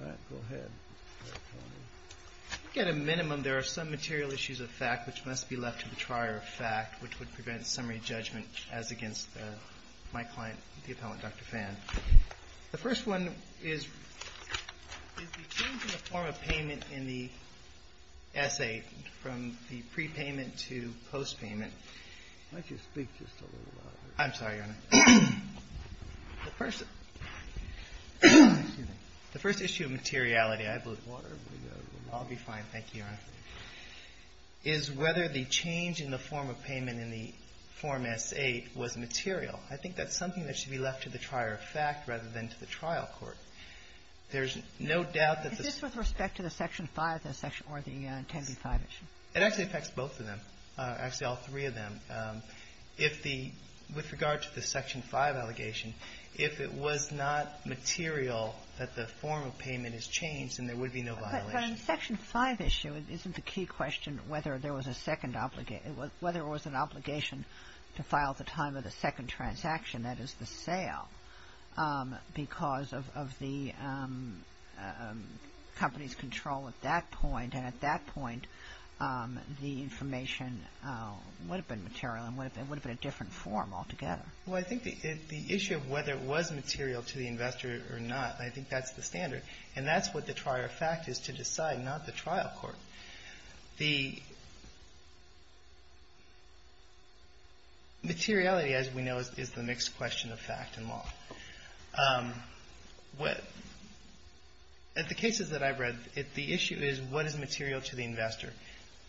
I think at a minimum, there are some material issues of fact which must be left to the trier of fact, which would prevent summary judgment as against my client, the Appellant Dr. Phan. The first one is the change in the form of payment in the essay from the prepayment to postpayment. I'm sorry, Your Honor. The first issue of materiality, I blew the water. I'll be fine. Thank you, Your Honor, is whether the change in the form of payment in the Form S-8 was material. I think that's something that should be left to the trier of fact rather than to the trial court. There's no doubt that the — Is this with respect to the Section 5 or the 10b-5 issue? It actually affects both of them, actually all three of them. If the — with regard to the Section 5 allegation, if it was not material that the form of payment is changed, then there would be no violation. But on the Section 5 issue, isn't the key question whether there was a second — whether it was an obligation to file at the time of the second transaction, that is the sale, because of the company's control at that point. And at that point, the information would have been material and would have been a different form altogether. Well, I think the issue of whether it was material to the investor or not, I think that's the standard. And that's what the trier of fact is to decide, not the trial court. The materiality, as we know, is the mixed question of fact and law. At the cases that I've read, the issue is what is material to the investor.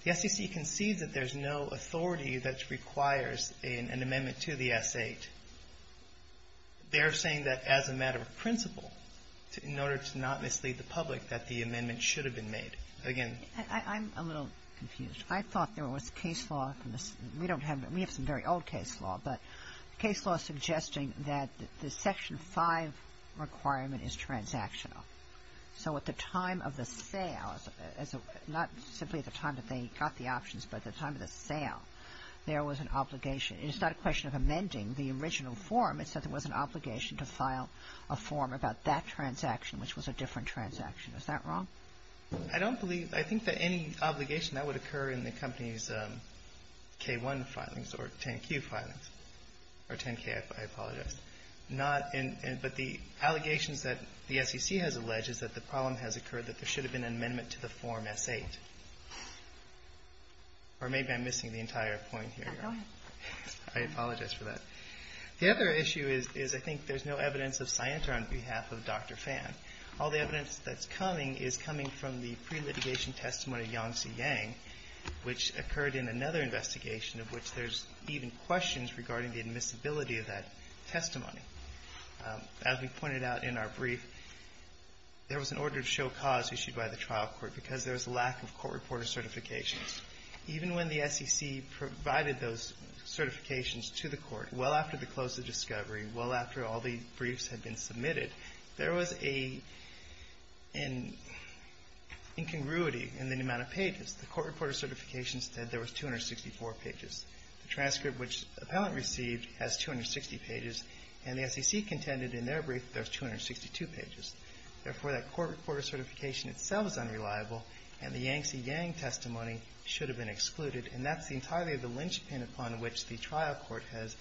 The SEC concedes that there's no authority that requires an amendment to the S-8. They're saying that as a matter of principle, in order to not mislead the public, that the amendment should have been made. I'm a little confused. I thought there was case law. We don't have — we have some very old case law, but case law suggesting that the Section 5 requirement is transactional. So at the time of the sale, not simply at the time that they got the options, but at the time of the sale, there was an obligation. It's not a question of amending the original form. It said there was an obligation to file a form about that transaction, which was a different transaction. Is that wrong? I don't believe — I think that any obligation, that would occur in the company's K-1 filings or 10-Q filings, or 10-K, I apologize. Not in — but the allegations that the SEC has alleged is that the problem has occurred that there should have been an amendment to the form S-8. Or maybe I'm missing the entire point here. Go ahead. I apologize for that. The other issue is I think there's no evidence of scienter on behalf of Dr. Phan. All the evidence that's coming is coming from the pre-litigation testimony of Yang Tse-Yang, which occurred in another investigation of which there's even questions regarding the admissibility of that testimony. As we pointed out in our brief, there was an order of show cause issued by the trial court because there was a lack of court reporter certifications. Even when the SEC provided those certifications to the court, well after the close of discovery, well after all the briefs had been submitted, there was a — an incongruity in the amount of pages. The court reporter certifications said there was 264 pages. The transcript which the appellant received has 260 pages, and the SEC contended in their brief that there's 262 pages. Therefore, that court reporter certification itself is unreliable, and the Yang Tse-Yang testimony should have been excluded. And that's entirely the lynchpin upon which the trial court has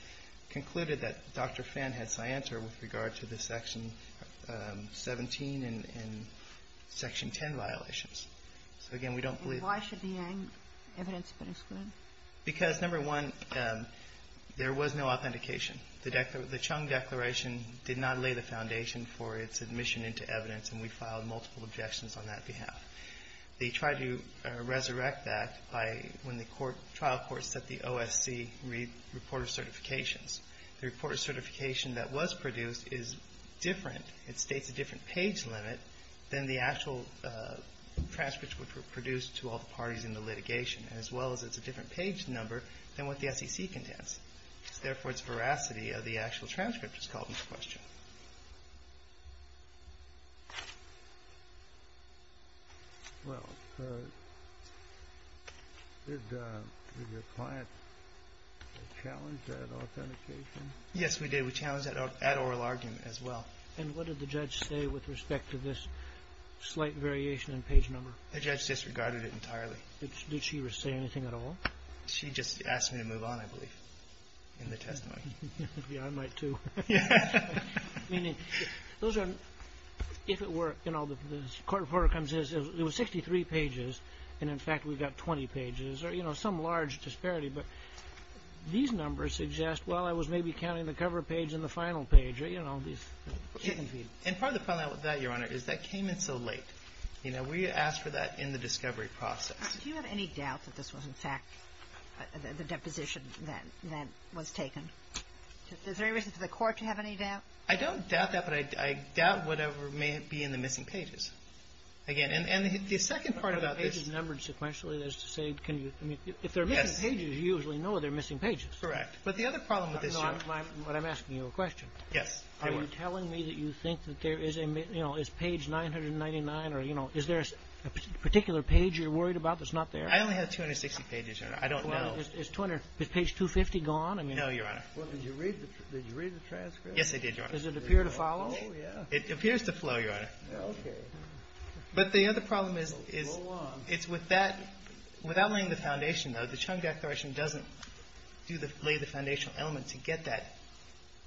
concluded that Dr. Phan had scienter with regard to the Section 17 and Section 10 violations. So, again, we don't believe — And why should the Yang evidence have been excluded? Because, number one, there was no authentication. The Chung Declaration did not lay the foundation for its admission into evidence, and we filed multiple objections on that behalf. They tried to resurrect that by — when the trial court set the OSC reporter certifications. The reporter certification that was produced is different. It states a different page limit than the actual transcripts which were produced to all the parties in the litigation, as well as it's a different page number than what the SEC contends. So, therefore, its veracity of the actual transcript is called into question. Well, did your client challenge that authentication? Yes, we did. We challenged that at oral argument, as well. And what did the judge say with respect to this slight variation in page number? The judge disregarded it entirely. Did she say anything at all? She just asked me to move on, I believe, in the testimony. Yeah, I might, too. Yeah. Meaning, those are — if it were, you know, the court reporter comes in and says, it was 63 pages, and, in fact, we've got 20 pages, or, you know, some large disparity. But these numbers suggest, well, I was maybe counting the cover page and the final page. You know, these — And part of the problem with that, Your Honor, is that came in so late. You know, we asked for that in the discovery process. Do you have any doubt that this was, in fact, the deposition that was taken? Is there any reason for the court to have any doubt? I don't doubt that, but I doubt whatever may be in the missing pages. Again, and the second part about this — If they're missing pages, you usually know they're missing pages. Correct. But the other problem with this, Your Honor — But I'm asking you a question. Yes. Are you telling me that you think that there is a — you know, is page 999, or, you know, is there a particular page you're worried about that's not there? I only have 260 pages, Your Honor. I don't know. Well, is page 250 gone? No, Your Honor. Well, did you read the transcript? Yes, I did, Your Honor. Does it appear to follow? It appears to flow, Your Honor. Okay. But the other problem is — Well, go on. It's with that — without laying the foundation, though, the Chung declaration doesn't do the — lay the foundational element to get that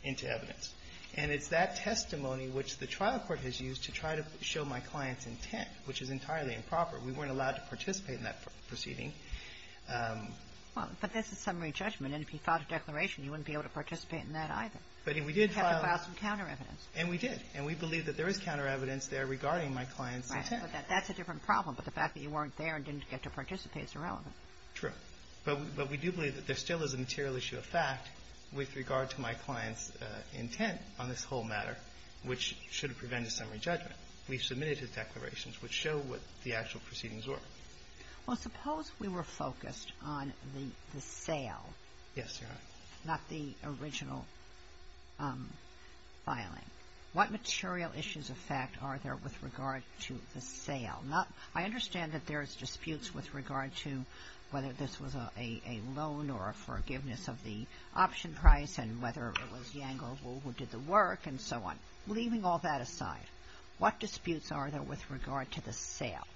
into evidence. And it's that testimony which the trial court has used to try to show my client's intent, which is entirely improper. We weren't allowed to participate in that proceeding. Well, but that's a summary judgment, and if you filed a declaration, you wouldn't be able to participate in that either. But if we did file — You'd have to file some counter evidence. And we did. And we believe that there is counter evidence there regarding my client's intent. Right. But that's a different problem. But the fact that you weren't there and didn't get to participate is irrelevant. True. But we do believe that there still is a material issue of fact with regard to my client's intent on this whole matter, which should prevent a summary judgment. We submitted his declarations, which show what the actual proceedings were. Well, suppose we were focused on the sale — Yes, Your Honor. — not the original filing. What material issues of fact are there with regard to the sale? I understand that there's disputes with regard to whether this was a loan or a forgiveness of the option price and whether it was Yang or Wu who did the work and so on. Leaving all that aside, what disputes are there with regard to the sale?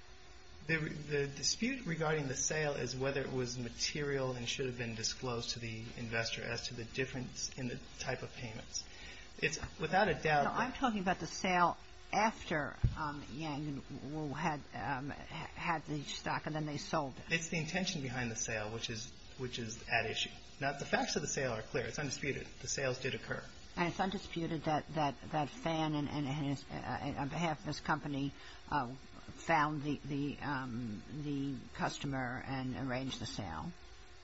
The dispute regarding the sale is whether it was material and should have been disclosed to the investor as to the difference in the type of payments. It's without a doubt that — No, I'm talking about the sale after Yang had the stock and then they sold it. It's the intention behind the sale, which is at issue. Now, the facts of the sale are clear. It's undisputed. The sales did occur. And it's undisputed that Fan, on behalf of his company, found the customer and arranged the sale?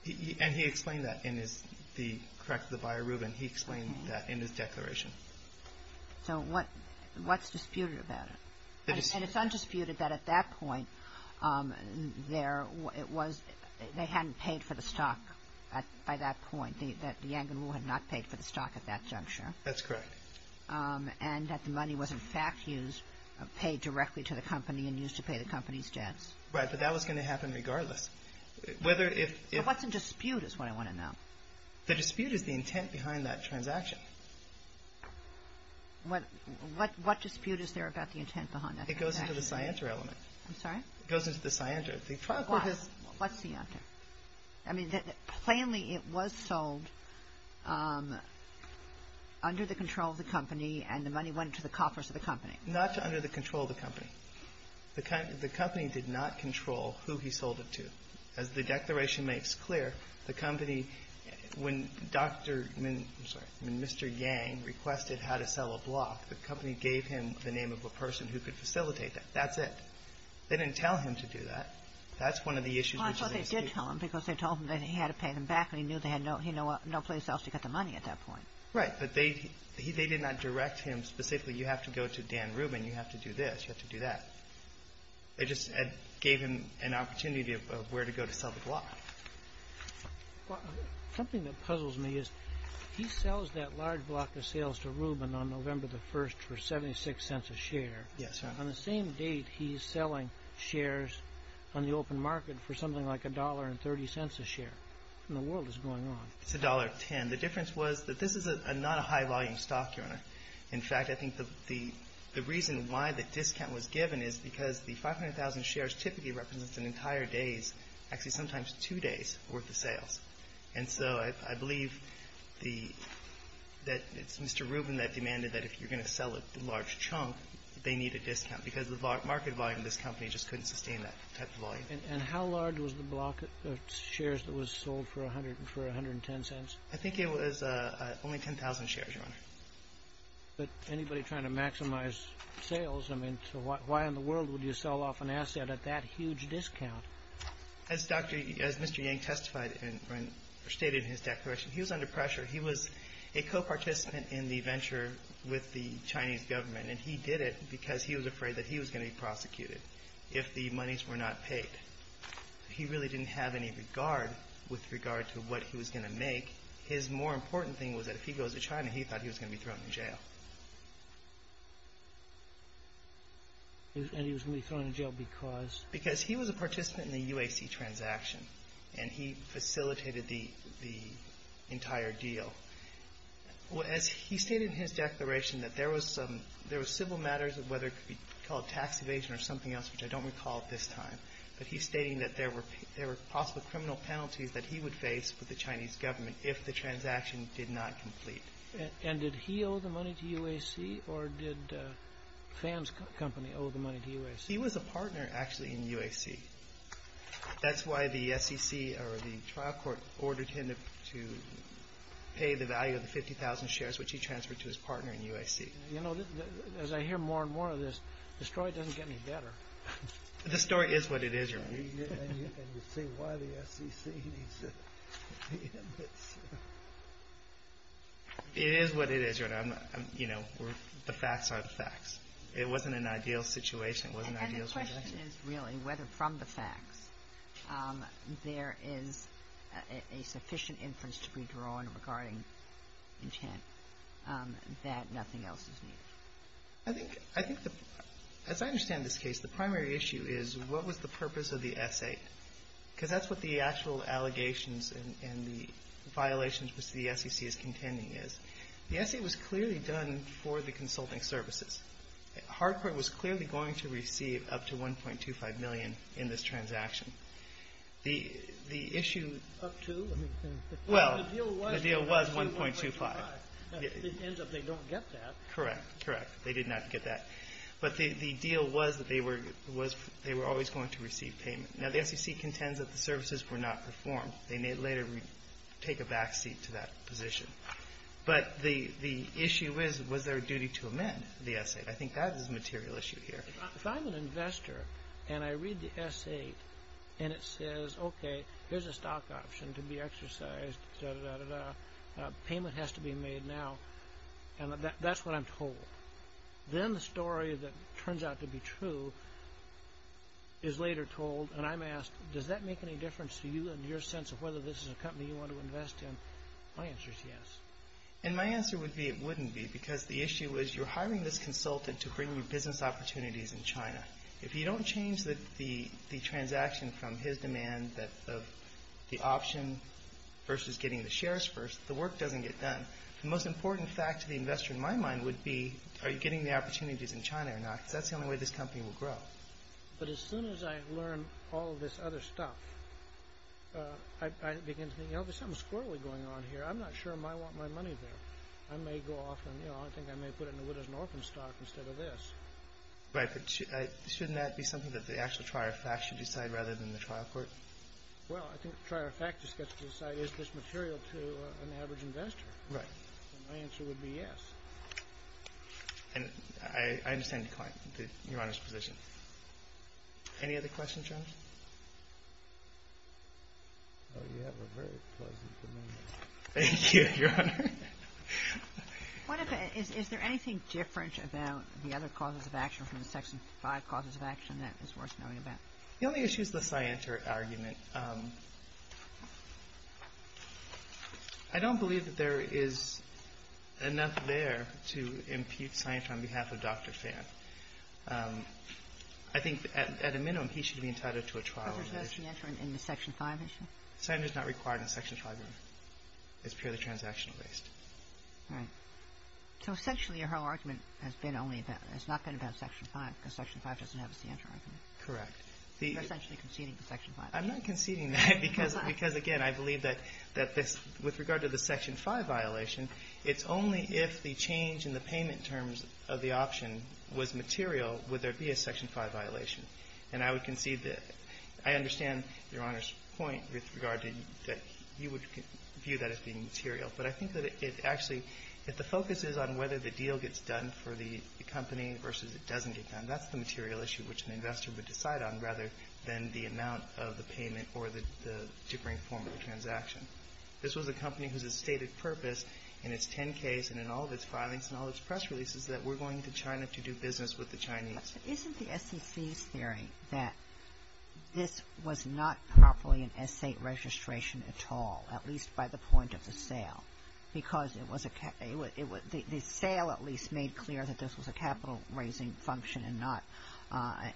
And he explained that in his — correct, the buyer, Rubin, he explained that in his declaration. So what's disputed about it? And it's undisputed that at that point, they hadn't paid for the stock by that point, that Yang and Wu had not paid for the stock at that juncture. That's correct. And that the money was, in fact, used — paid directly to the company and used to pay the company's debts. Right, but that was going to happen regardless. Whether if — So what's in dispute is what I want to know. The dispute is the intent behind that transaction. What dispute is there about the intent behind that transaction? It goes into the scienter element. I'm sorry? It goes into the scienter. Why? What's scienter? I mean, plainly it was sold under the control of the company and the money went to the coffers of the company. Not to under the control of the company. The company did not control who he sold it to. As the declaration makes clear, the company — when Dr. — I'm sorry, when Mr. Yang requested how to sell a block, the company gave him the name of a person who could facilitate that. That's it. They didn't tell him to do that. That's one of the issues which is in dispute. Well, I thought they did tell him because they told him that he had to pay them back, but he knew they had no place else to get the money at that point. Right. But they did not direct him specifically, you have to go to Dan Rubin, you have to do this, you have to do that. They just gave him an opportunity of where to go to sell the block. Something that puzzles me is he sells that large block of sales to Rubin on November the 1st for 76 cents a share. Yes, sir. On the same date, he's selling shares on the open market for something like $1.30 a share. What in the world is going on? It's $1.10. The difference was that this is not a high volume stock, Your Honor. In fact, I think the reason why the discount was given is because the 500,000 shares typically represents an entire day's, actually sometimes two days' worth of sales. And so I believe that it's Mr. Rubin that demanded that if you're going to sell a large chunk, they need a discount because the market volume of this company just couldn't sustain that type of volume. And how large was the block of shares that was sold for $1.10? I think it was only 10,000 shares, Your Honor. But anybody trying to maximize sales, I mean, why in the world would you sell off an asset at that huge discount? As Mr. Yang testified and stated in his declaration, he was under pressure. He was a co-participant in the venture with the Chinese government, and he did it because he was afraid that he was going to be prosecuted if the monies were not paid. He really didn't have any regard with regard to what he was going to make. His more important thing was that if he goes to China, he thought he was going to be thrown in jail. And he was going to be thrown in jail because? Because he was a participant in the UAC transaction, and he facilitated the entire deal. As he stated in his declaration that there were civil matters, whether it could be called tax evasion or something else, which I don't recall at this time, but he's stating that there were possible criminal penalties that he would face with the Chinese government if the transaction did not complete. And did he owe the money to UAC, or did Pham's company owe the money to UAC? He was a partner, actually, in UAC. That's why the SEC or the trial court ordered him to pay the value of the 50,000 shares which he transferred to his partner in UAC. You know, as I hear more and more of this, the story doesn't get any better. The story is what it is, Your Honor. It is what it is, Your Honor. You know, the facts are the facts. It wasn't an ideal situation. And the question is really whether from the facts there is a sufficient inference to be drawn regarding intent that nothing else is needed. I think, as I understand this case, the primary issue is what was the purpose of the essay? Because that's what the actual allegations and the violations which the SEC is contending is. The essay was clearly done for the consulting services. Hardcourt was clearly going to receive up to $1.25 million in this transaction. The issue up to? Well, the deal was $1.25. It ends up they don't get that. Correct. Correct. They did not get that. But the deal was that they were always going to receive payment. Now, the SEC contends that the services were not performed. They may later take a backseat to that position. But the issue is was there a duty to amend the essay? I think that is a material issue here. If I'm an investor and I read the essay and it says, okay, here's a stock option to be exercised, da-da-da-da-da. Payment has to be made now. And that's what I'm told. Then the story that turns out to be true is later told and I'm asked, does that make any difference to you and your sense of whether this is a company you want to invest in? My answer is yes. And my answer would be it wouldn't be because the issue is you're hiring this consultant to bring you business opportunities in China. If you don't change the transaction from his demand of the option versus getting the shares first, the work doesn't get done. The most important fact to the investor in my mind would be, are you getting the opportunities in China or not? Because that's the only way this company will grow. But as soon as I learn all of this other stuff, I begin to think, you know, there's something squirrelly going on here. I'm not sure if I want my money there. I may go off and, you know, I think I may put it in the widow's and orphan stock instead of this. Right, but shouldn't that be something that the actual trier of fact should decide rather than the trial court? Well, I think the trier of fact just gets to decide, is this material to an average investor? Right. My answer would be yes. And I understand the client, Your Honor's position. Any other questions, Your Honor? Oh, you have a very pleasant demeanor. Thank you, Your Honor. What about, is there anything different about the other causes of action from the Section 5 causes of action that is worth knowing about? The only issue is the scienter argument. I don't believe that there is enough there to impute scienter on behalf of Dr. Phan. I think at a minimum he should be entitled to a trial. But there's no scienter in the Section 5 issue? Scienter's not required in Section 5, Your Honor. It's purely transactional based. Right. So essentially your whole argument has been only about, has not been about Section 5, because Section 5 doesn't have a scienter argument. Correct. I'm not conceding to Section 5. I'm not conceding that, because again, I believe that this, with regard to the Section 5 violation, it's only if the change in the payment terms of the option was material would there be a Section 5 violation. And I would concede that, I understand Your Honor's point with regard to, that you would view that as being material. But I think that it actually, that the focus is on whether the deal gets done for the company versus it doesn't get done. And that's the material issue which an investor would decide on rather than the amount of the payment or the different form of the transaction. This was a company whose stated purpose in its 10-Ks and in all of its filings and all of its press releases is that we're going to China to do business with the Chinese. But isn't the SEC's theory that this was not properly an essay registration at all, at least by the point of the sale? Because it was a, the sale at least made clear that this was a capital raising function and not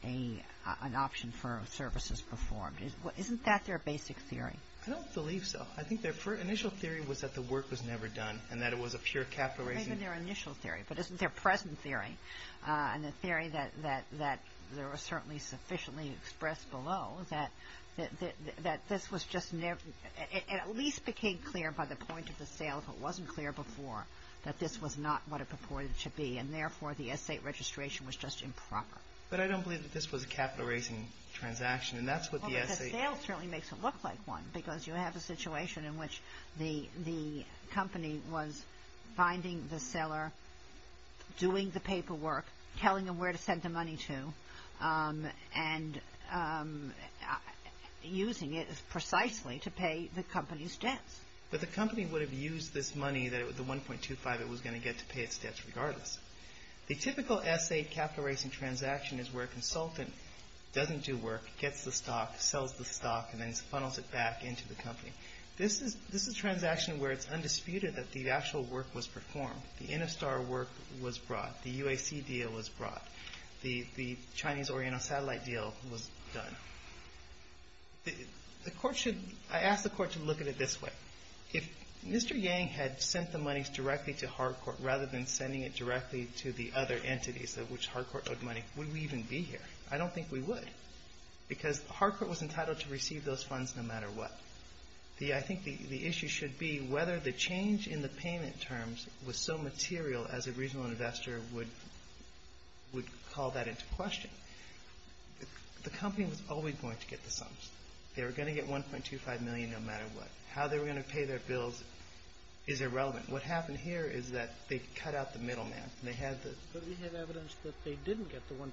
an option for services performed. Isn't that their basic theory? I don't believe so. I think their initial theory was that the work was never done and that it was a pure capital raising. Maybe their initial theory. But isn't their present theory and the theory that there are certainly sufficiently expressed below that this was just never, it at least became clear by the point of the sale if it wasn't clear before that this was not what it purported to be. And therefore, the essay registration was just improper. But I don't believe that this was a capital raising transaction and that's what the essay. The sale certainly makes it look like one because you have a situation in which the company was finding the seller, doing the paperwork, telling them where to send the money to and using it precisely to pay the company's debts. But the company would have used this money, the 1.25 it was going to get to pay its debts regardless. The typical essay capital raising transaction is where a consultant doesn't do work, gets the stock, sells the stock and then funnels it back into the company. This is a transaction where it's undisputed that the actual work was performed. The InnoStar work was brought. The UAC deal was brought. The Chinese Oriental Satellite deal was done. The court should, I ask the court to look at it this way. If Mr. Yang had sent the monies directly to Harcourt rather than sending it directly to the other entities of which Harcourt owed money, would we even be here? I don't think we would because Harcourt was entitled to receive those funds no matter what. I think the issue should be whether the change in the payment terms was so material as a regional investor would call that into question. The company was always going to get the sums. They were going to get 1.25 million no matter what. How they were going to pay their bills is irrelevant. What happened here is that they cut out the middleman. But we have evidence that they didn't get the 1.25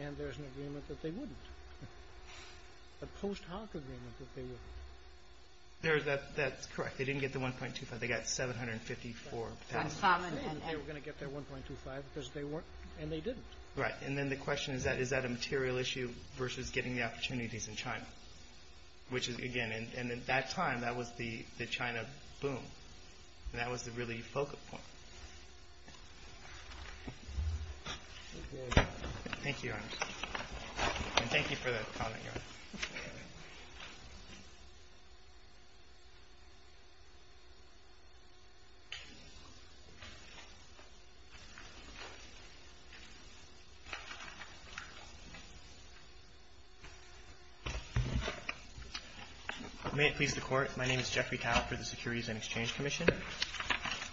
and there's an agreement that they wouldn't. A post-HARC agreement that they wouldn't. That's correct. They didn't get the 1.25. They got 754,000. And they were going to get their 1.25 because they weren't and they didn't. Right. And then the question is that is that a material issue versus getting the opportunities in China? Which is, again, and at that time that was the China boom. And that was the really focal point. Thank you, Your Honor. May it please the Court. My name is Jeffrey Tao for the Securities and Exchange Commission.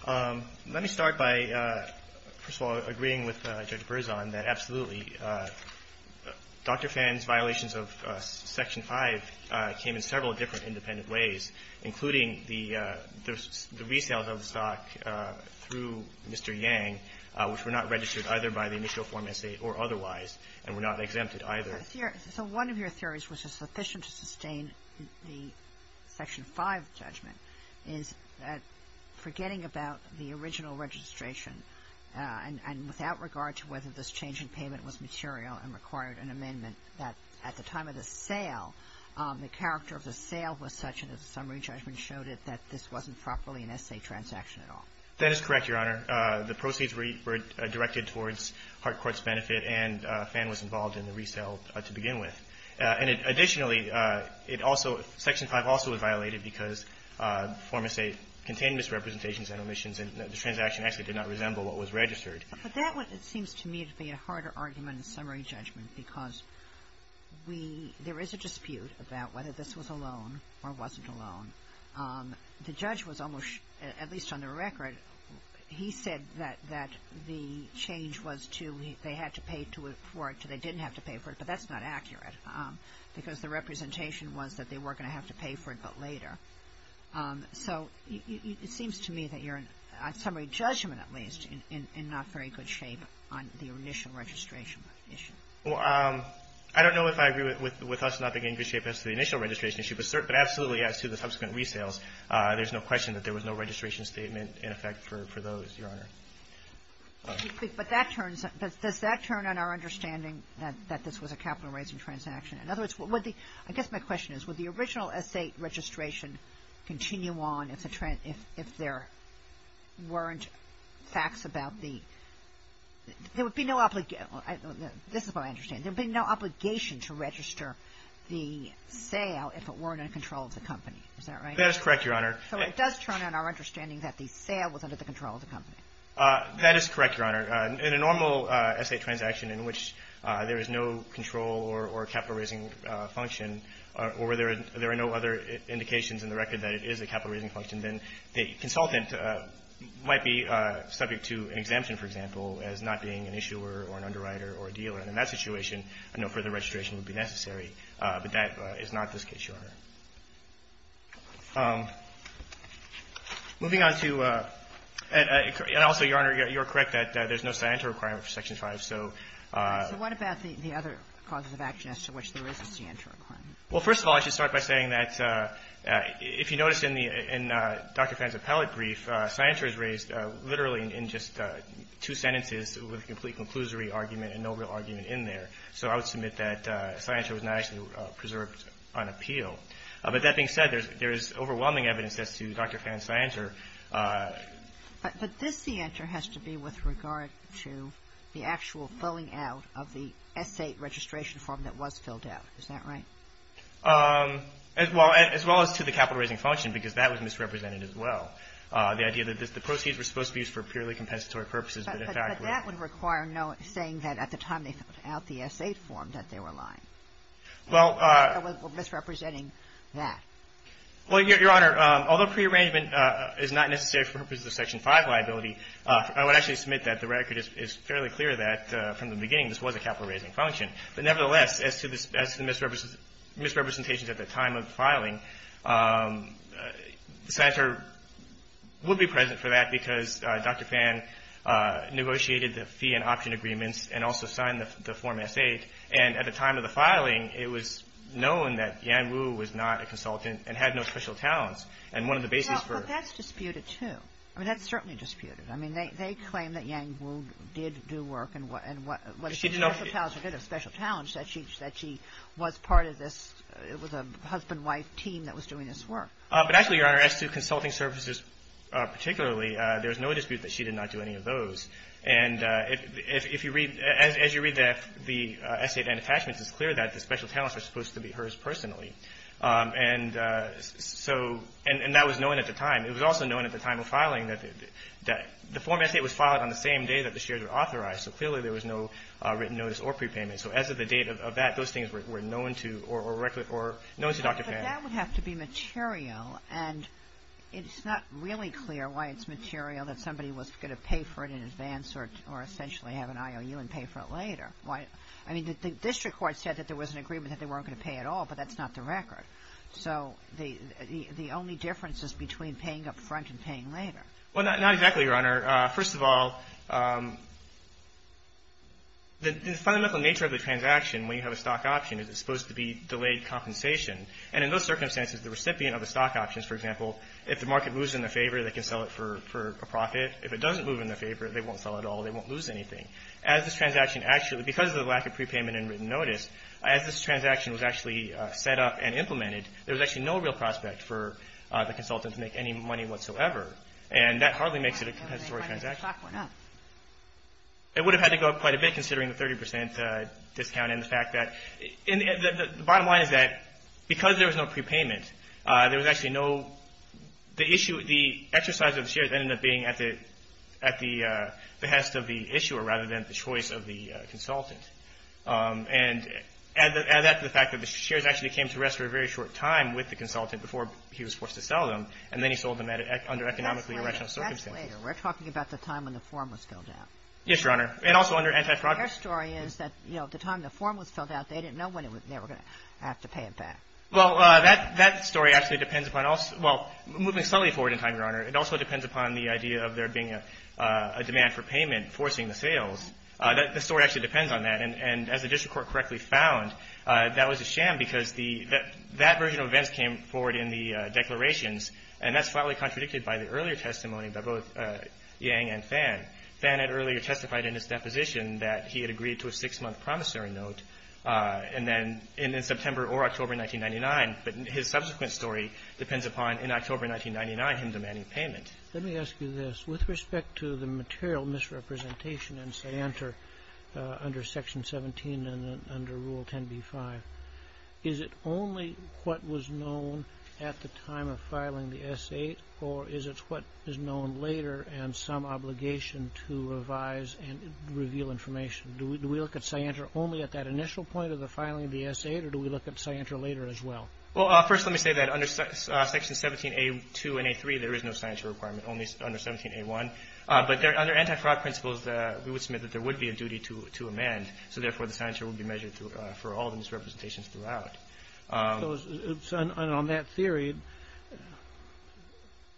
Let me start by, first of all, agreeing with Judge Berzon that absolutely Dr. Fan's violations of Section 5 came in several different independent ways, including the resales of the stock through Mr. Yang, which were not registered either by the initial Form S.A. or otherwise and were not exempted either. So one of your theories, which is sufficient to sustain the Section 5 judgment, is that forgetting about the original registration and without regard to whether this change in payment was material and required an amendment, that at the time of the sale, the character of the sale was such that the summary judgment showed it that this wasn't properly an S.A. transaction at all. That is correct, Your Honor. The proceeds were directed towards Hart Court's benefit and Fan was involved in the resale to begin with. And additionally, it also, Section 5 also was violated because Form S.A. contained misrepresentations and omissions and the transaction actually did not resemble what was registered. But that one, it seems to me, to be a harder argument in summary judgment because we, there is a dispute about whether this was a loan or wasn't a loan. The judge was almost, at least on the record, he said that the change was to they had to pay for it, so they didn't have to pay for it. But that's not accurate because the representation was that they were going to have to pay for it, but later. So it seems to me that you're, on summary judgment at least, in not very good shape on the initial registration issue. Well, I don't know if I agree with us not being in good shape as to the initial registration issue, but absolutely as to the subsequent resales, there's no question that there was no registration statement in effect for those, Your Honor. But that turns, does that turn on our understanding that this was a capital raising transaction? In other words, would the, I guess my question is, would the original S.A. registration continue on if there weren't facts about the, there would be no obligation, this is what I understand. There would be no obligation to register the sale if it weren't in control of the company. Is that right? That is correct, Your Honor. So it does turn on our understanding that the sale was under the control of the company. That is correct, Your Honor. In a normal S.A. transaction in which there is no control or capital raising function or where there are no other indications in the record that it is a capital raising function, then the consultant might be subject to an exemption, for example, as not being an issuer or an underwriter or a dealer. And in that situation, I know further registration would be necessary. But that is not the case, Your Honor. Moving on to, and also, Your Honor, you're correct that there's no scienter requirement for Section 5. So what about the other causes of action as to which there is a scienter requirement? Well, first of all, I should start by saying that if you notice in the, in Dr. Fann's appellate brief, scienter is raised literally in just two sentences with a complete conclusory argument and no real argument in there. So I would submit that scienter was not actually preserved on appeal. But that being said, there is overwhelming evidence as to Dr. Fann's scienter. But this scienter has to be with regard to the actual filling out of the S.A. registration form that was filled out. Is that right? Well, as well as to the capital raising function, because that was misrepresented as well. The idea that the proceeds were supposed to be used for purely compensatory purposes. But that would require saying that at the time they filled out the S.A. form that they were lying. Well. Or misrepresenting that. Well, Your Honor, although prearrangement is not necessary for purposes of Section 5 liability, I would actually submit that the record is fairly clear that from the beginning this was a capital raising function. But nevertheless, as to the misrepresentations at the time of the filing, the scienter would be present for that because Dr. Fann negotiated the fee and option agreements and also signed the form S.A. And at the time of the filing, it was known that Yang Wu was not a consultant and had no special talents. And one of the bases for. Well, but that's disputed too. I mean, that's certainly disputed. I mean, they claim that Yang Wu did do work and what. She did not. She did have special talents, that she was part of this. It was a husband-wife team that was doing this work. But actually, Your Honor, as to consulting services particularly, there's no dispute that she did not do any of those. And if you read, as you read the S.A. and attachments, it's clear that the special talents are supposed to be hers personally. And so, and that was known at the time. It was also known at the time of filing that the form S.A. was filed on the same day that the shares were authorized. So clearly, there was no written notice or prepayment. So as of the date of that, those things were known to, or known to Dr. Pan. But that would have to be material, and it's not really clear why it's material that somebody was going to pay for it in advance or essentially have an IOU and pay for it later. I mean, the district court said that there was an agreement that they weren't going to pay at all, but that's not the record. So the only difference is between paying up front and paying later. Well, not exactly, Your Honor. First of all, the fundamental nature of the transaction when you have a stock option is it's supposed to be delayed compensation. And in those circumstances, the recipient of the stock options, for example, if the market moves in their favor, they can sell it for a profit. If it doesn't move in their favor, they won't sell at all. They won't lose anything. As this transaction actually, because of the lack of prepayment and written notice, as this transaction was actually set up and implemented, there was actually no real prospect for the consultant to make any money whatsoever. And that hardly makes it a compensatory transaction. It would have had to go up quite a bit considering the 30 percent discount and the fact that the bottom line is that because there was no prepayment, there was actually no the issue, the exercise of the shares ended up being at the behest of the issuer rather than the choice of the consultant. And add that to the fact that the shares actually came to rest for a very short time with the consultant before he was forced to sell them. And then he sold them under economically irrational circumstances. That's later. We're talking about the time when the form was filled out. Yes, Your Honor. And also under anti-fraud. Their story is that, you know, at the time the form was filled out, they didn't know when they were going to have to pay it back. Well, that story actually depends upon also – well, moving slowly forward in time, Your Honor, it also depends upon the idea of there being a demand for payment forcing the sales. The story actually depends on that. And as the district court correctly found, that was a sham because that version of events came forward in the declarations, and that's slightly contradicted by the earlier testimony by both Yang and Fan. Fan had earlier testified in his deposition that he had agreed to a six-month promissory note and then in September or October 1999. But his subsequent story depends upon in October 1999 him demanding payment. Let me ask you this. With respect to the material misrepresentation in Scianter under Section 17 and under Rule 10b-5, is it only what was known at the time of filing the S-8, or is it what is known later and some obligation to revise and reveal information? Do we look at Scianter only at that initial point of the filing of the S-8, or do we look at Scianter later as well? Well, first let me say that under Section 17a-2 and a-3, there is no Scianter requirement, only under 17a-1. But under anti-fraud principles, we would submit that there would be a duty to amend. So therefore, the Scianter would be measured for all the misrepresentations throughout. So on that theory,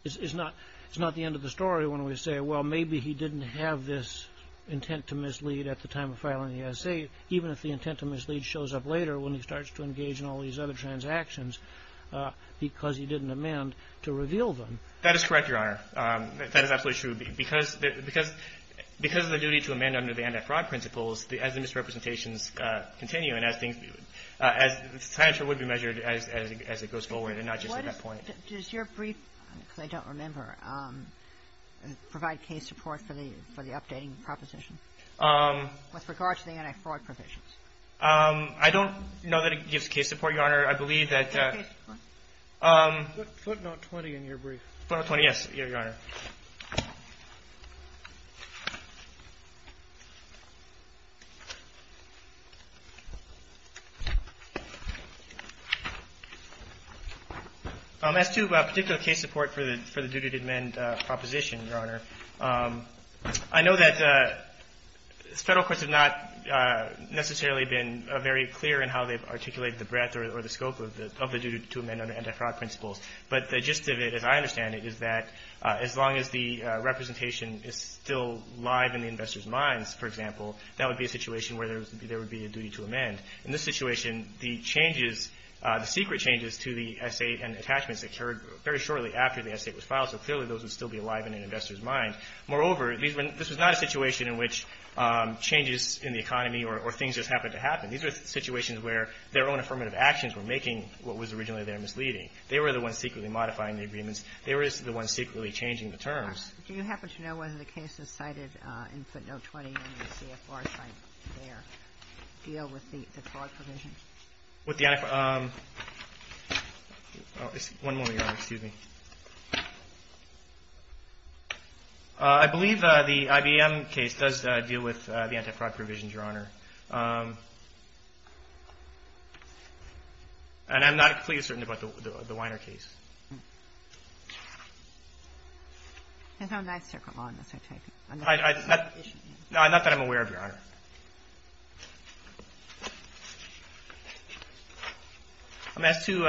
it's not the end of the story when we say, well, maybe he didn't have this intent to mislead at the time of filing the S-8, even if the intent to mislead shows up later when he starts to engage in all these other transactions because he didn't amend to reveal them. That is correct, Your Honor. That is absolutely true. Because of the duty to amend under the anti-fraud principles, as the misrepresentations continue and as things begin, Scianter would be measured as it goes forward and not just at that point. Does your brief, because I don't remember, provide case support for the updating proposition with regard to the anti-fraud provisions? I don't know that it gives case support, Your Honor. I believe that the ---- Footnote 20 in your brief. Footnote 20, yes, Your Honor. As to a particular case support for the duty to amend proposition, Your Honor, I know that Federal courts have not necessarily been very clear in how they've articulated the breadth or the scope of the duty to amend under anti-fraud principles. But the gist of it, as I understand it, is that as long as the representation is still live in the investor's minds, for example, that would be a situation where there would be a duty to amend. In this situation, the changes, the secret changes to the S.A. and attachments occurred very shortly after the S.A. was filed, so clearly those would still be alive in an investor's mind. Moreover, this was not a situation in which changes in the economy or things just happened to happen. These were situations where their own affirmative actions were making what was originally their misleading. They were the ones secretly modifying the agreements. They were the ones secretly changing the terms. Do you happen to know whether the cases cited in Footnote 20 in the CFR site there deal with the anti-fraud provisions? With the anti-fraud? One moment, Your Honor. Excuse me. I believe the IBM case does deal with the anti-fraud provisions, Your Honor. And I'm not completely certain about the Weiner case. And how nice to come on this, I take it? Not that I'm aware of, Your Honor. As to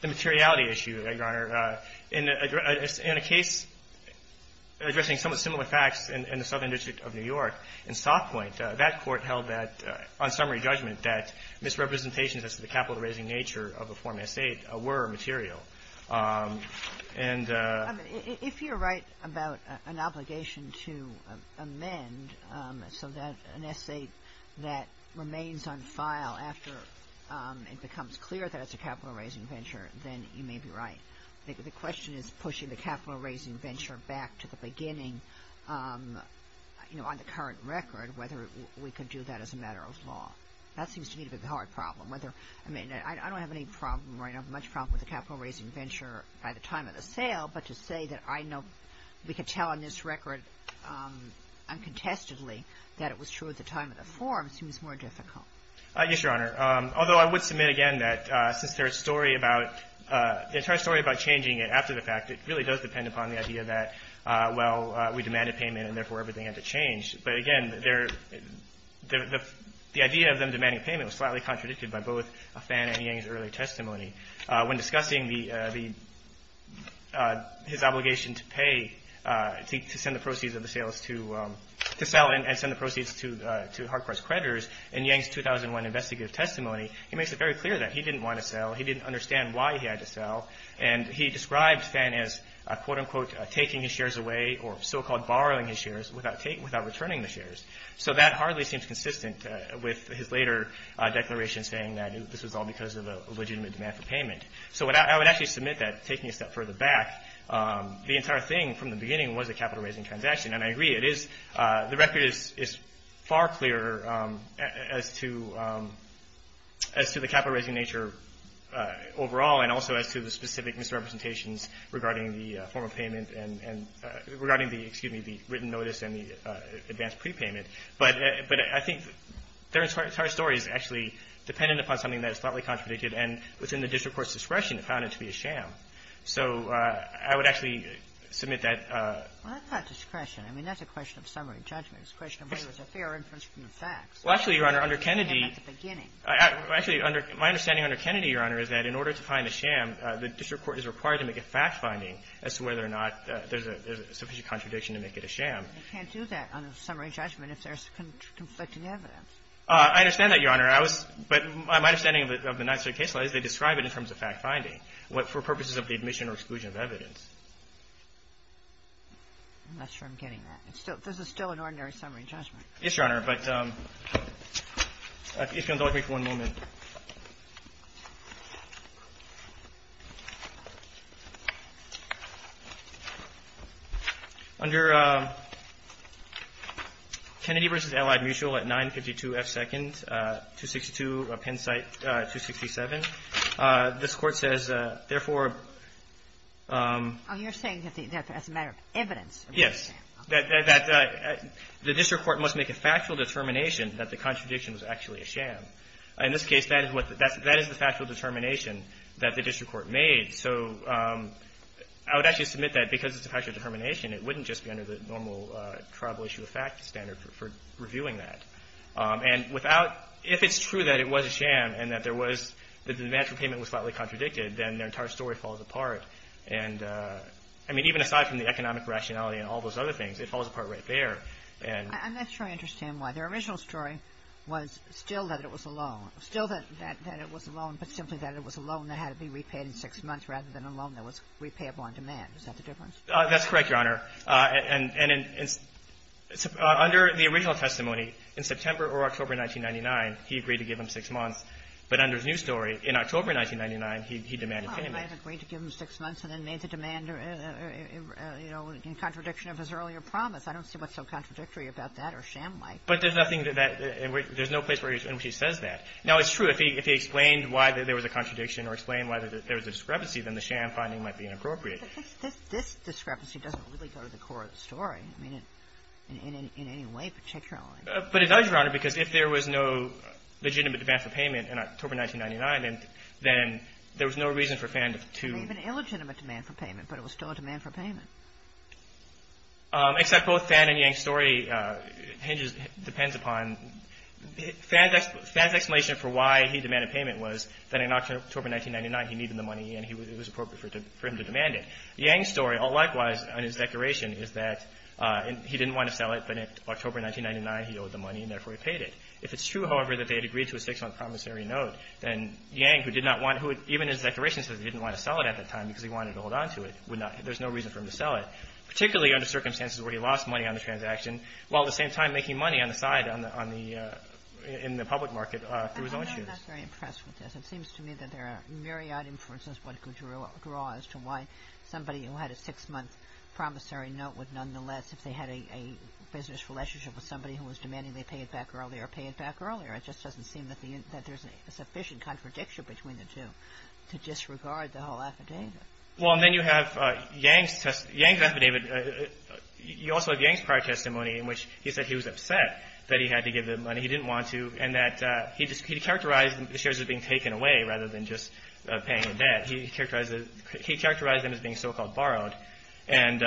the materiality issue, Your Honor, in a case addressing somewhat similar facts in the Southern District of New York, in Stock Point, that court held that, on summary judgment, that misrepresentations as to the capital-raising nature of a form S.A.T.E. were material. If you're right about an obligation to amend so that an S.A.T.E. that remains on file after it becomes clear that it's a capital-raising venture, then you may be right. The question is pushing the capital-raising venture back to the beginning on the current record, whether we could do that as a matter of law. That seems to me to be the hard problem. I don't have much problem with the capital-raising venture by the time of the sale, but to say that I know we could tell on this record uncontestedly that it was true at the time of the form seems more difficult. Yes, Your Honor. Although I would submit, again, that since the entire story about changing it after the fact, it really does depend upon the idea that, well, we demanded payment and therefore everything had to change. But again, the idea of them demanding payment was slightly contradicted by both Afan and Yang's early testimony. When discussing his obligation to pay, to send the proceeds of the sales to sell and send the proceeds to Harcourt's creditors, in Yang's 2001 investigative testimony, he makes it very clear that he didn't want to sell. He didn't understand why he had to sell. And he describes then as, quote-unquote, taking his shares away or so-called borrowing his shares without returning the shares. So that hardly seems consistent with his later declaration saying that this was all because of a legitimate demand for payment. So I would actually submit that taking a step further back, the entire thing from the beginning was a capital-raising transaction. And I agree, it is the record is far clearer as to the capital-raising nature overall and also as to the specific misrepresentations regarding the form of payment and regarding the, excuse me, the written notice and the advance prepayment. But I think the entire story is actually dependent upon something that is slightly contradicted. And within the district court's discretion, it found it to be a sham. So I would actually submit that. Well, that's not discretion. I mean, that's a question of summary judgment. It's a question of whether it was a fair inference from the facts. Well, actually, Your Honor, under Kennedy. It was a sham at the beginning. Actually, my understanding under Kennedy, Your Honor, is that in order to find a sham, the district court is required to make a fact-finding as to whether or not there's a sufficient contradiction to make it a sham. You can't do that under summary judgment if there's conflicting evidence. I understand that, Your Honor. But my understanding of the Ninth Circuit case law is they describe it in terms of fact-finding for purposes of the admission or exclusion of evidence. I'm not sure I'm getting that. This is still an ordinary summary judgment. Yes, Your Honor. But if you'll indulge me for one moment. Under Kennedy v. Allied Mutual at 952 F. 2nd, 262 Penn Site 267, this Court says, therefore, Oh, you're saying that that's a matter of evidence. Yes. That the district court must make a factual determination that the contradiction was actually a sham. In this case, that is what the – that is the factual determination that the district court made. So I would actually submit that because it's a factual determination, it wouldn't just be under the normal tribal issue of fact standard for reviewing that. I mean, even aside from the economic rationality and all those other things, it falls apart right there. And – I'm not sure I understand why. Their original story was still that it was a loan. Still that it was a loan, but simply that it was a loan that had to be repaid in six months rather than a loan that was repayable on demand. Is that the difference? That's correct, Your Honor. And in – under the original testimony, in September or October 1999, he agreed to give them six months. But under his new story, in October 1999, he demanded payment. He might have agreed to give them six months and then made the demand, you know, in contradiction of his earlier promise. I don't see what's so contradictory about that or sham-like. But there's nothing that – there's no place in which he says that. Now, it's true, if he explained why there was a contradiction or explained why there was a discrepancy, then the sham finding might be inappropriate. But this discrepancy doesn't really go to the core of the story. I mean, in any way particularly. But it does, Your Honor, because if there was no legitimate demand for payment in October 1999, then there was no reason for Fan to – There may have been illegitimate demand for payment, but it was still a demand for payment. Except both Fan and Yang's story hinges – depends upon – Fan's explanation for why he demanded payment was that in October 1999, he needed the money and it was appropriate for him to demand it. Yang's story, likewise, on his declaration is that he didn't want to sell it, but in October 1999, he owed the money and therefore he paid it. If it's true, however, that they had agreed to a six-month promissory note, then Yang, who did not want – even his declaration says he didn't want to sell it at that time because he wanted to hold on to it, there's no reason for him to sell it, particularly under circumstances where he lost money on the transaction while at the same time making money on the side on the – in the public market through his own shoes. I'm not very impressed with this. It seems to me that there are myriad inferences what could draw as to why somebody who had a six-month promissory note would nonetheless, if they had a business relationship with somebody who was demanding they pay it back earlier, pay it back earlier. It just doesn't seem that the – that there's a sufficient contradiction between the two to disregard the whole affidavit. Well, and then you have Yang's – Yang's affidavit – you also have Yang's prior testimony in which he said he was upset that he had to give the money. He didn't want to and that he just – he characterized the shares as being taken away rather than just paying in debt. He characterized – he characterized them as being so-called borrowed. And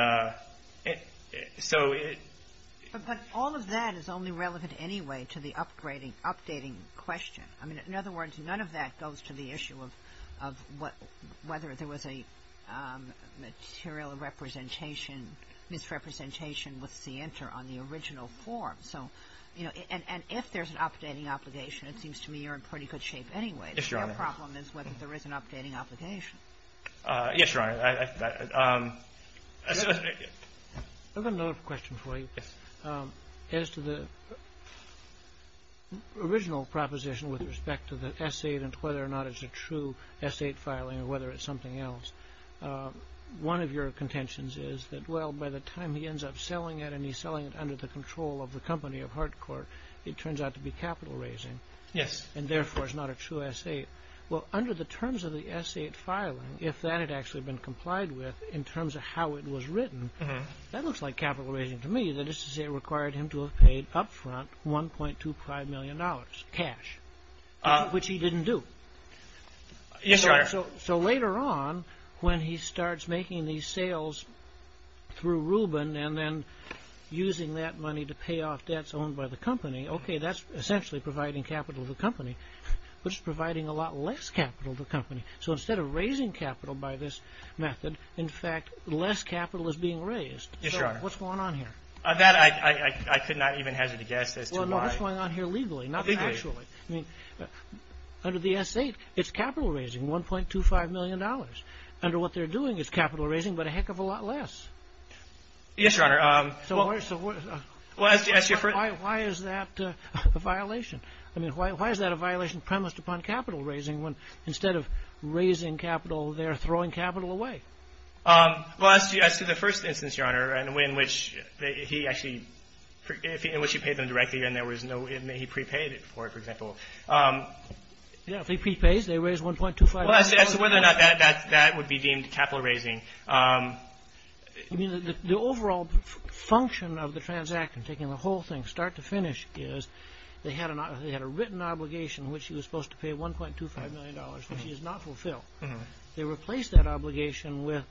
so it – But all of that is only relevant anyway to the upgrading – updating question. I mean, in other words, none of that goes to the issue of what – whether there was a material representation, misrepresentation with Sienter on the original form. So, you know, and if there's an updating obligation, it seems to me you're in pretty good shape anyway. Yes, Your Honor. The problem is whether there is an updating obligation. Yes, Your Honor. I've got another question for you. Yes. As to the original proposition with respect to the S-8 and whether or not it's a true S-8 filing or whether it's something else, one of your contentions is that, well, by the time he ends up selling it and he's selling it under the control of the company of Hardcourt, it turns out to be capital raising. Yes. And therefore, it's not a true S-8. Well, under the terms of the S-8 filing, if that had actually been complied with in terms of how it was written, that looks like capital raising to me. That is to say it required him to have paid up front $1.25 million cash, which he didn't do. Yes, Your Honor. So later on, when he starts making these sales through Rubin and then using that money to pay off debts owned by the company, okay, that's essentially providing capital to the company, but it's providing a lot less capital to the company. So instead of raising capital by this method, in fact, less capital is being raised. Yes, Your Honor. So what's going on here? That I could not even hesitate to guess as to why. Well, no, what's going on here legally, not actually? Legally. I mean, under the S-8, it's capital raising, $1.25 million. Under what they're doing, it's capital raising, but a heck of a lot less. Yes, Your Honor. So why is that a violation? I mean, why is that a violation premised upon capital raising when instead of raising capital, they're throwing capital away? Well, as to the first instance, Your Honor, in which he actually – in which he paid them directly and there was no – he prepaid it for it, for example. Yes, if he prepays, they raise $1.25 million. Well, as to whether or not that would be deemed capital raising. I mean, the overall function of the transaction, taking the whole thing start to finish, is they had a written obligation which he was supposed to pay $1.25 million, which he has not fulfilled. They replaced that obligation with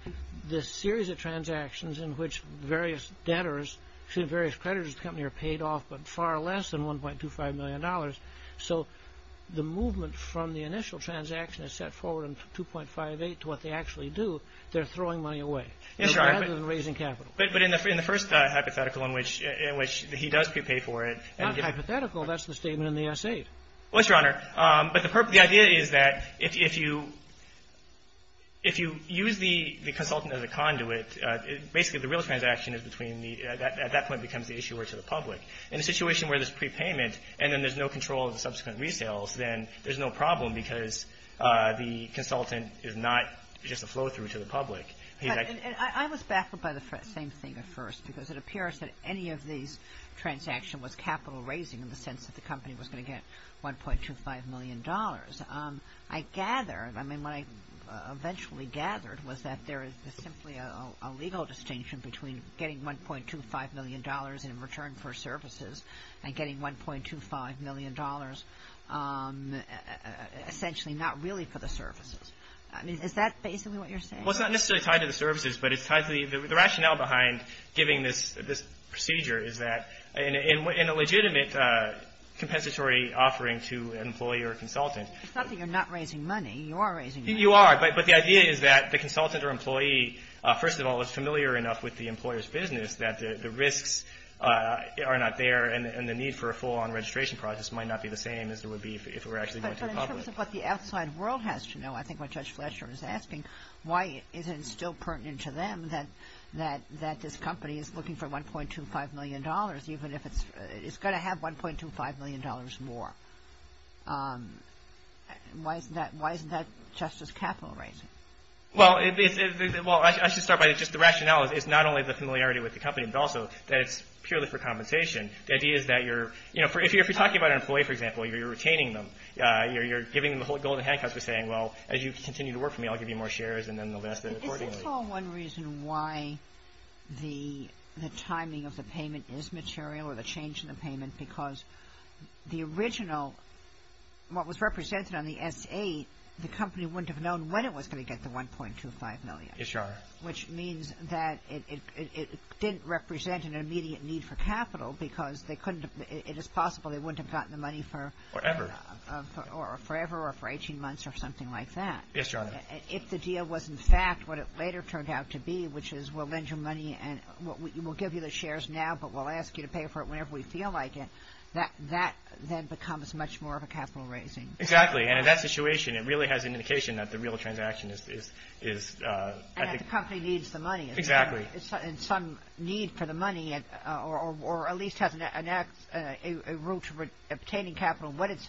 this series of transactions in which various debtors – various creditors of the company are paid off but far less than $1.25 million. So the movement from the initial transaction is set forward in 2.58 to what they actually do. They're throwing money away. Yes, Your Honor. Rather than raising capital. But in the first hypothetical in which he does prepay for it – Not hypothetical. That's the statement in the essay. Well, yes, Your Honor. But the idea is that if you use the consultant as a conduit, basically the real transaction is between the – at that point becomes the issuer to the public. In a situation where there's prepayment and then there's no control of the subsequent resales, then there's no problem because the consultant is not just a flow-through to the public. And I was baffled by the same thing at first because it appears that any of these transactions was capital raising in the sense that the company was going to get $1.25 million. I gathered – I mean, what I eventually gathered was that there is simply a legal distinction between getting $1.25 million in return for services and getting $1.25 million essentially not really for the services. I mean, is that basically what you're saying? Well, it's not necessarily tied to the services, but it's tied to the – the rationale behind giving this procedure is that in a legitimate compensatory offering to an employee or a consultant – It's not that you're not raising money. You are raising money. You are. But the idea is that the consultant or employee, first of all, is familiar enough with the employer's business that the risks are not there and the need for a full-on registration process might not be the same as it would be if it were actually going to the public. But in terms of what the outside world has to know, I think what Judge Fletcher is asking, why is it still pertinent to them that this company is looking for $1.25 million even if it's – it's going to have $1.25 million more? Why isn't that – why isn't that just as capital raising? Well, it – well, I should start by just – the rationale is not only the familiarity with the company, but also that it's purely for compensation. The idea is that you're – you know, if you're talking about an employee, for example, you're retaining them. You're giving them the golden handcuffs for saying, well, as you continue to work for me, I'll give you more shares and then they'll ask accordingly. Is this all one reason why the timing of the payment is material or the change in the payment? Because the original – what was represented on the S-8, the company wouldn't have known when it was going to get the $1.25 million. Yes, Your Honor. Which means that it didn't represent an immediate need for capital because they couldn't – it is possible they wouldn't have gotten the money for – Forever. Forever or for 18 months or something like that. Yes, Your Honor. If the deal was, in fact, what it later turned out to be, which is we'll lend you money and we'll give you the shares now, but we'll ask you to pay for it whenever we feel like it, that then becomes much more of a capital raising. Exactly. And in that situation, it really has an indication that the real transaction is – And that the company needs the money. Exactly. And some need for the money or at least has a route to obtaining capital. But it's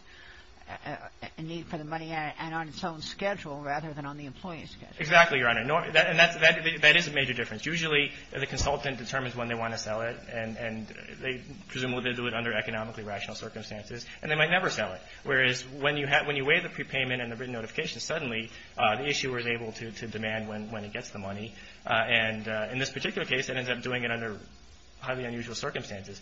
a need for the money and on its own schedule rather than on the employee's schedule. Exactly, Your Honor. And that is a major difference. Usually the consultant determines when they want to sell it and they presume they'll do it under economically rational circumstances and they might never sell it. Whereas when you weigh the prepayment and the written notification, suddenly the issuer is able to demand when it gets the money. And in this particular case, it ends up doing it under highly unusual circumstances.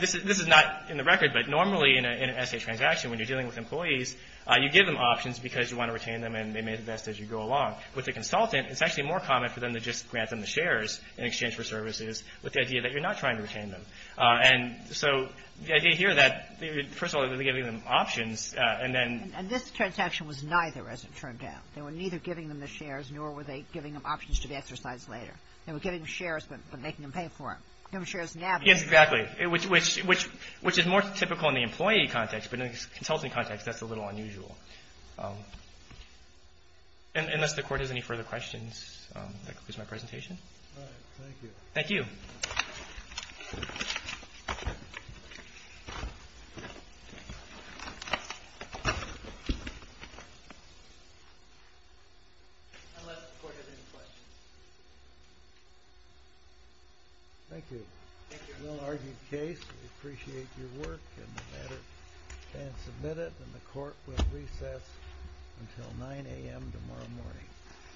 This is not in the record, but normally in an S.A. transaction, when you're dealing with employees, you give them options because you want to retain them and they may invest as you go along. With a consultant, it's actually more common for them to just grant them the shares in exchange for services with the idea that you're not trying to retain them. And so the idea here that, first of all, they're giving them options and then – And this transaction was neither, as it turned out. They were neither giving them the shares nor were they giving them options to be exercised later. They were giving them shares but making them pay for it. Yes, exactly, which is more typical in the employee context. But in the consultant context, that's a little unusual. Unless the Court has any further questions, that concludes my presentation. All right. Thank you. Thank you. Unless the Court has any questions. Thank you. Thank you. A little argued case. We appreciate your work in the matter and submit it. And the Court will recess until 9 a.m. tomorrow morning.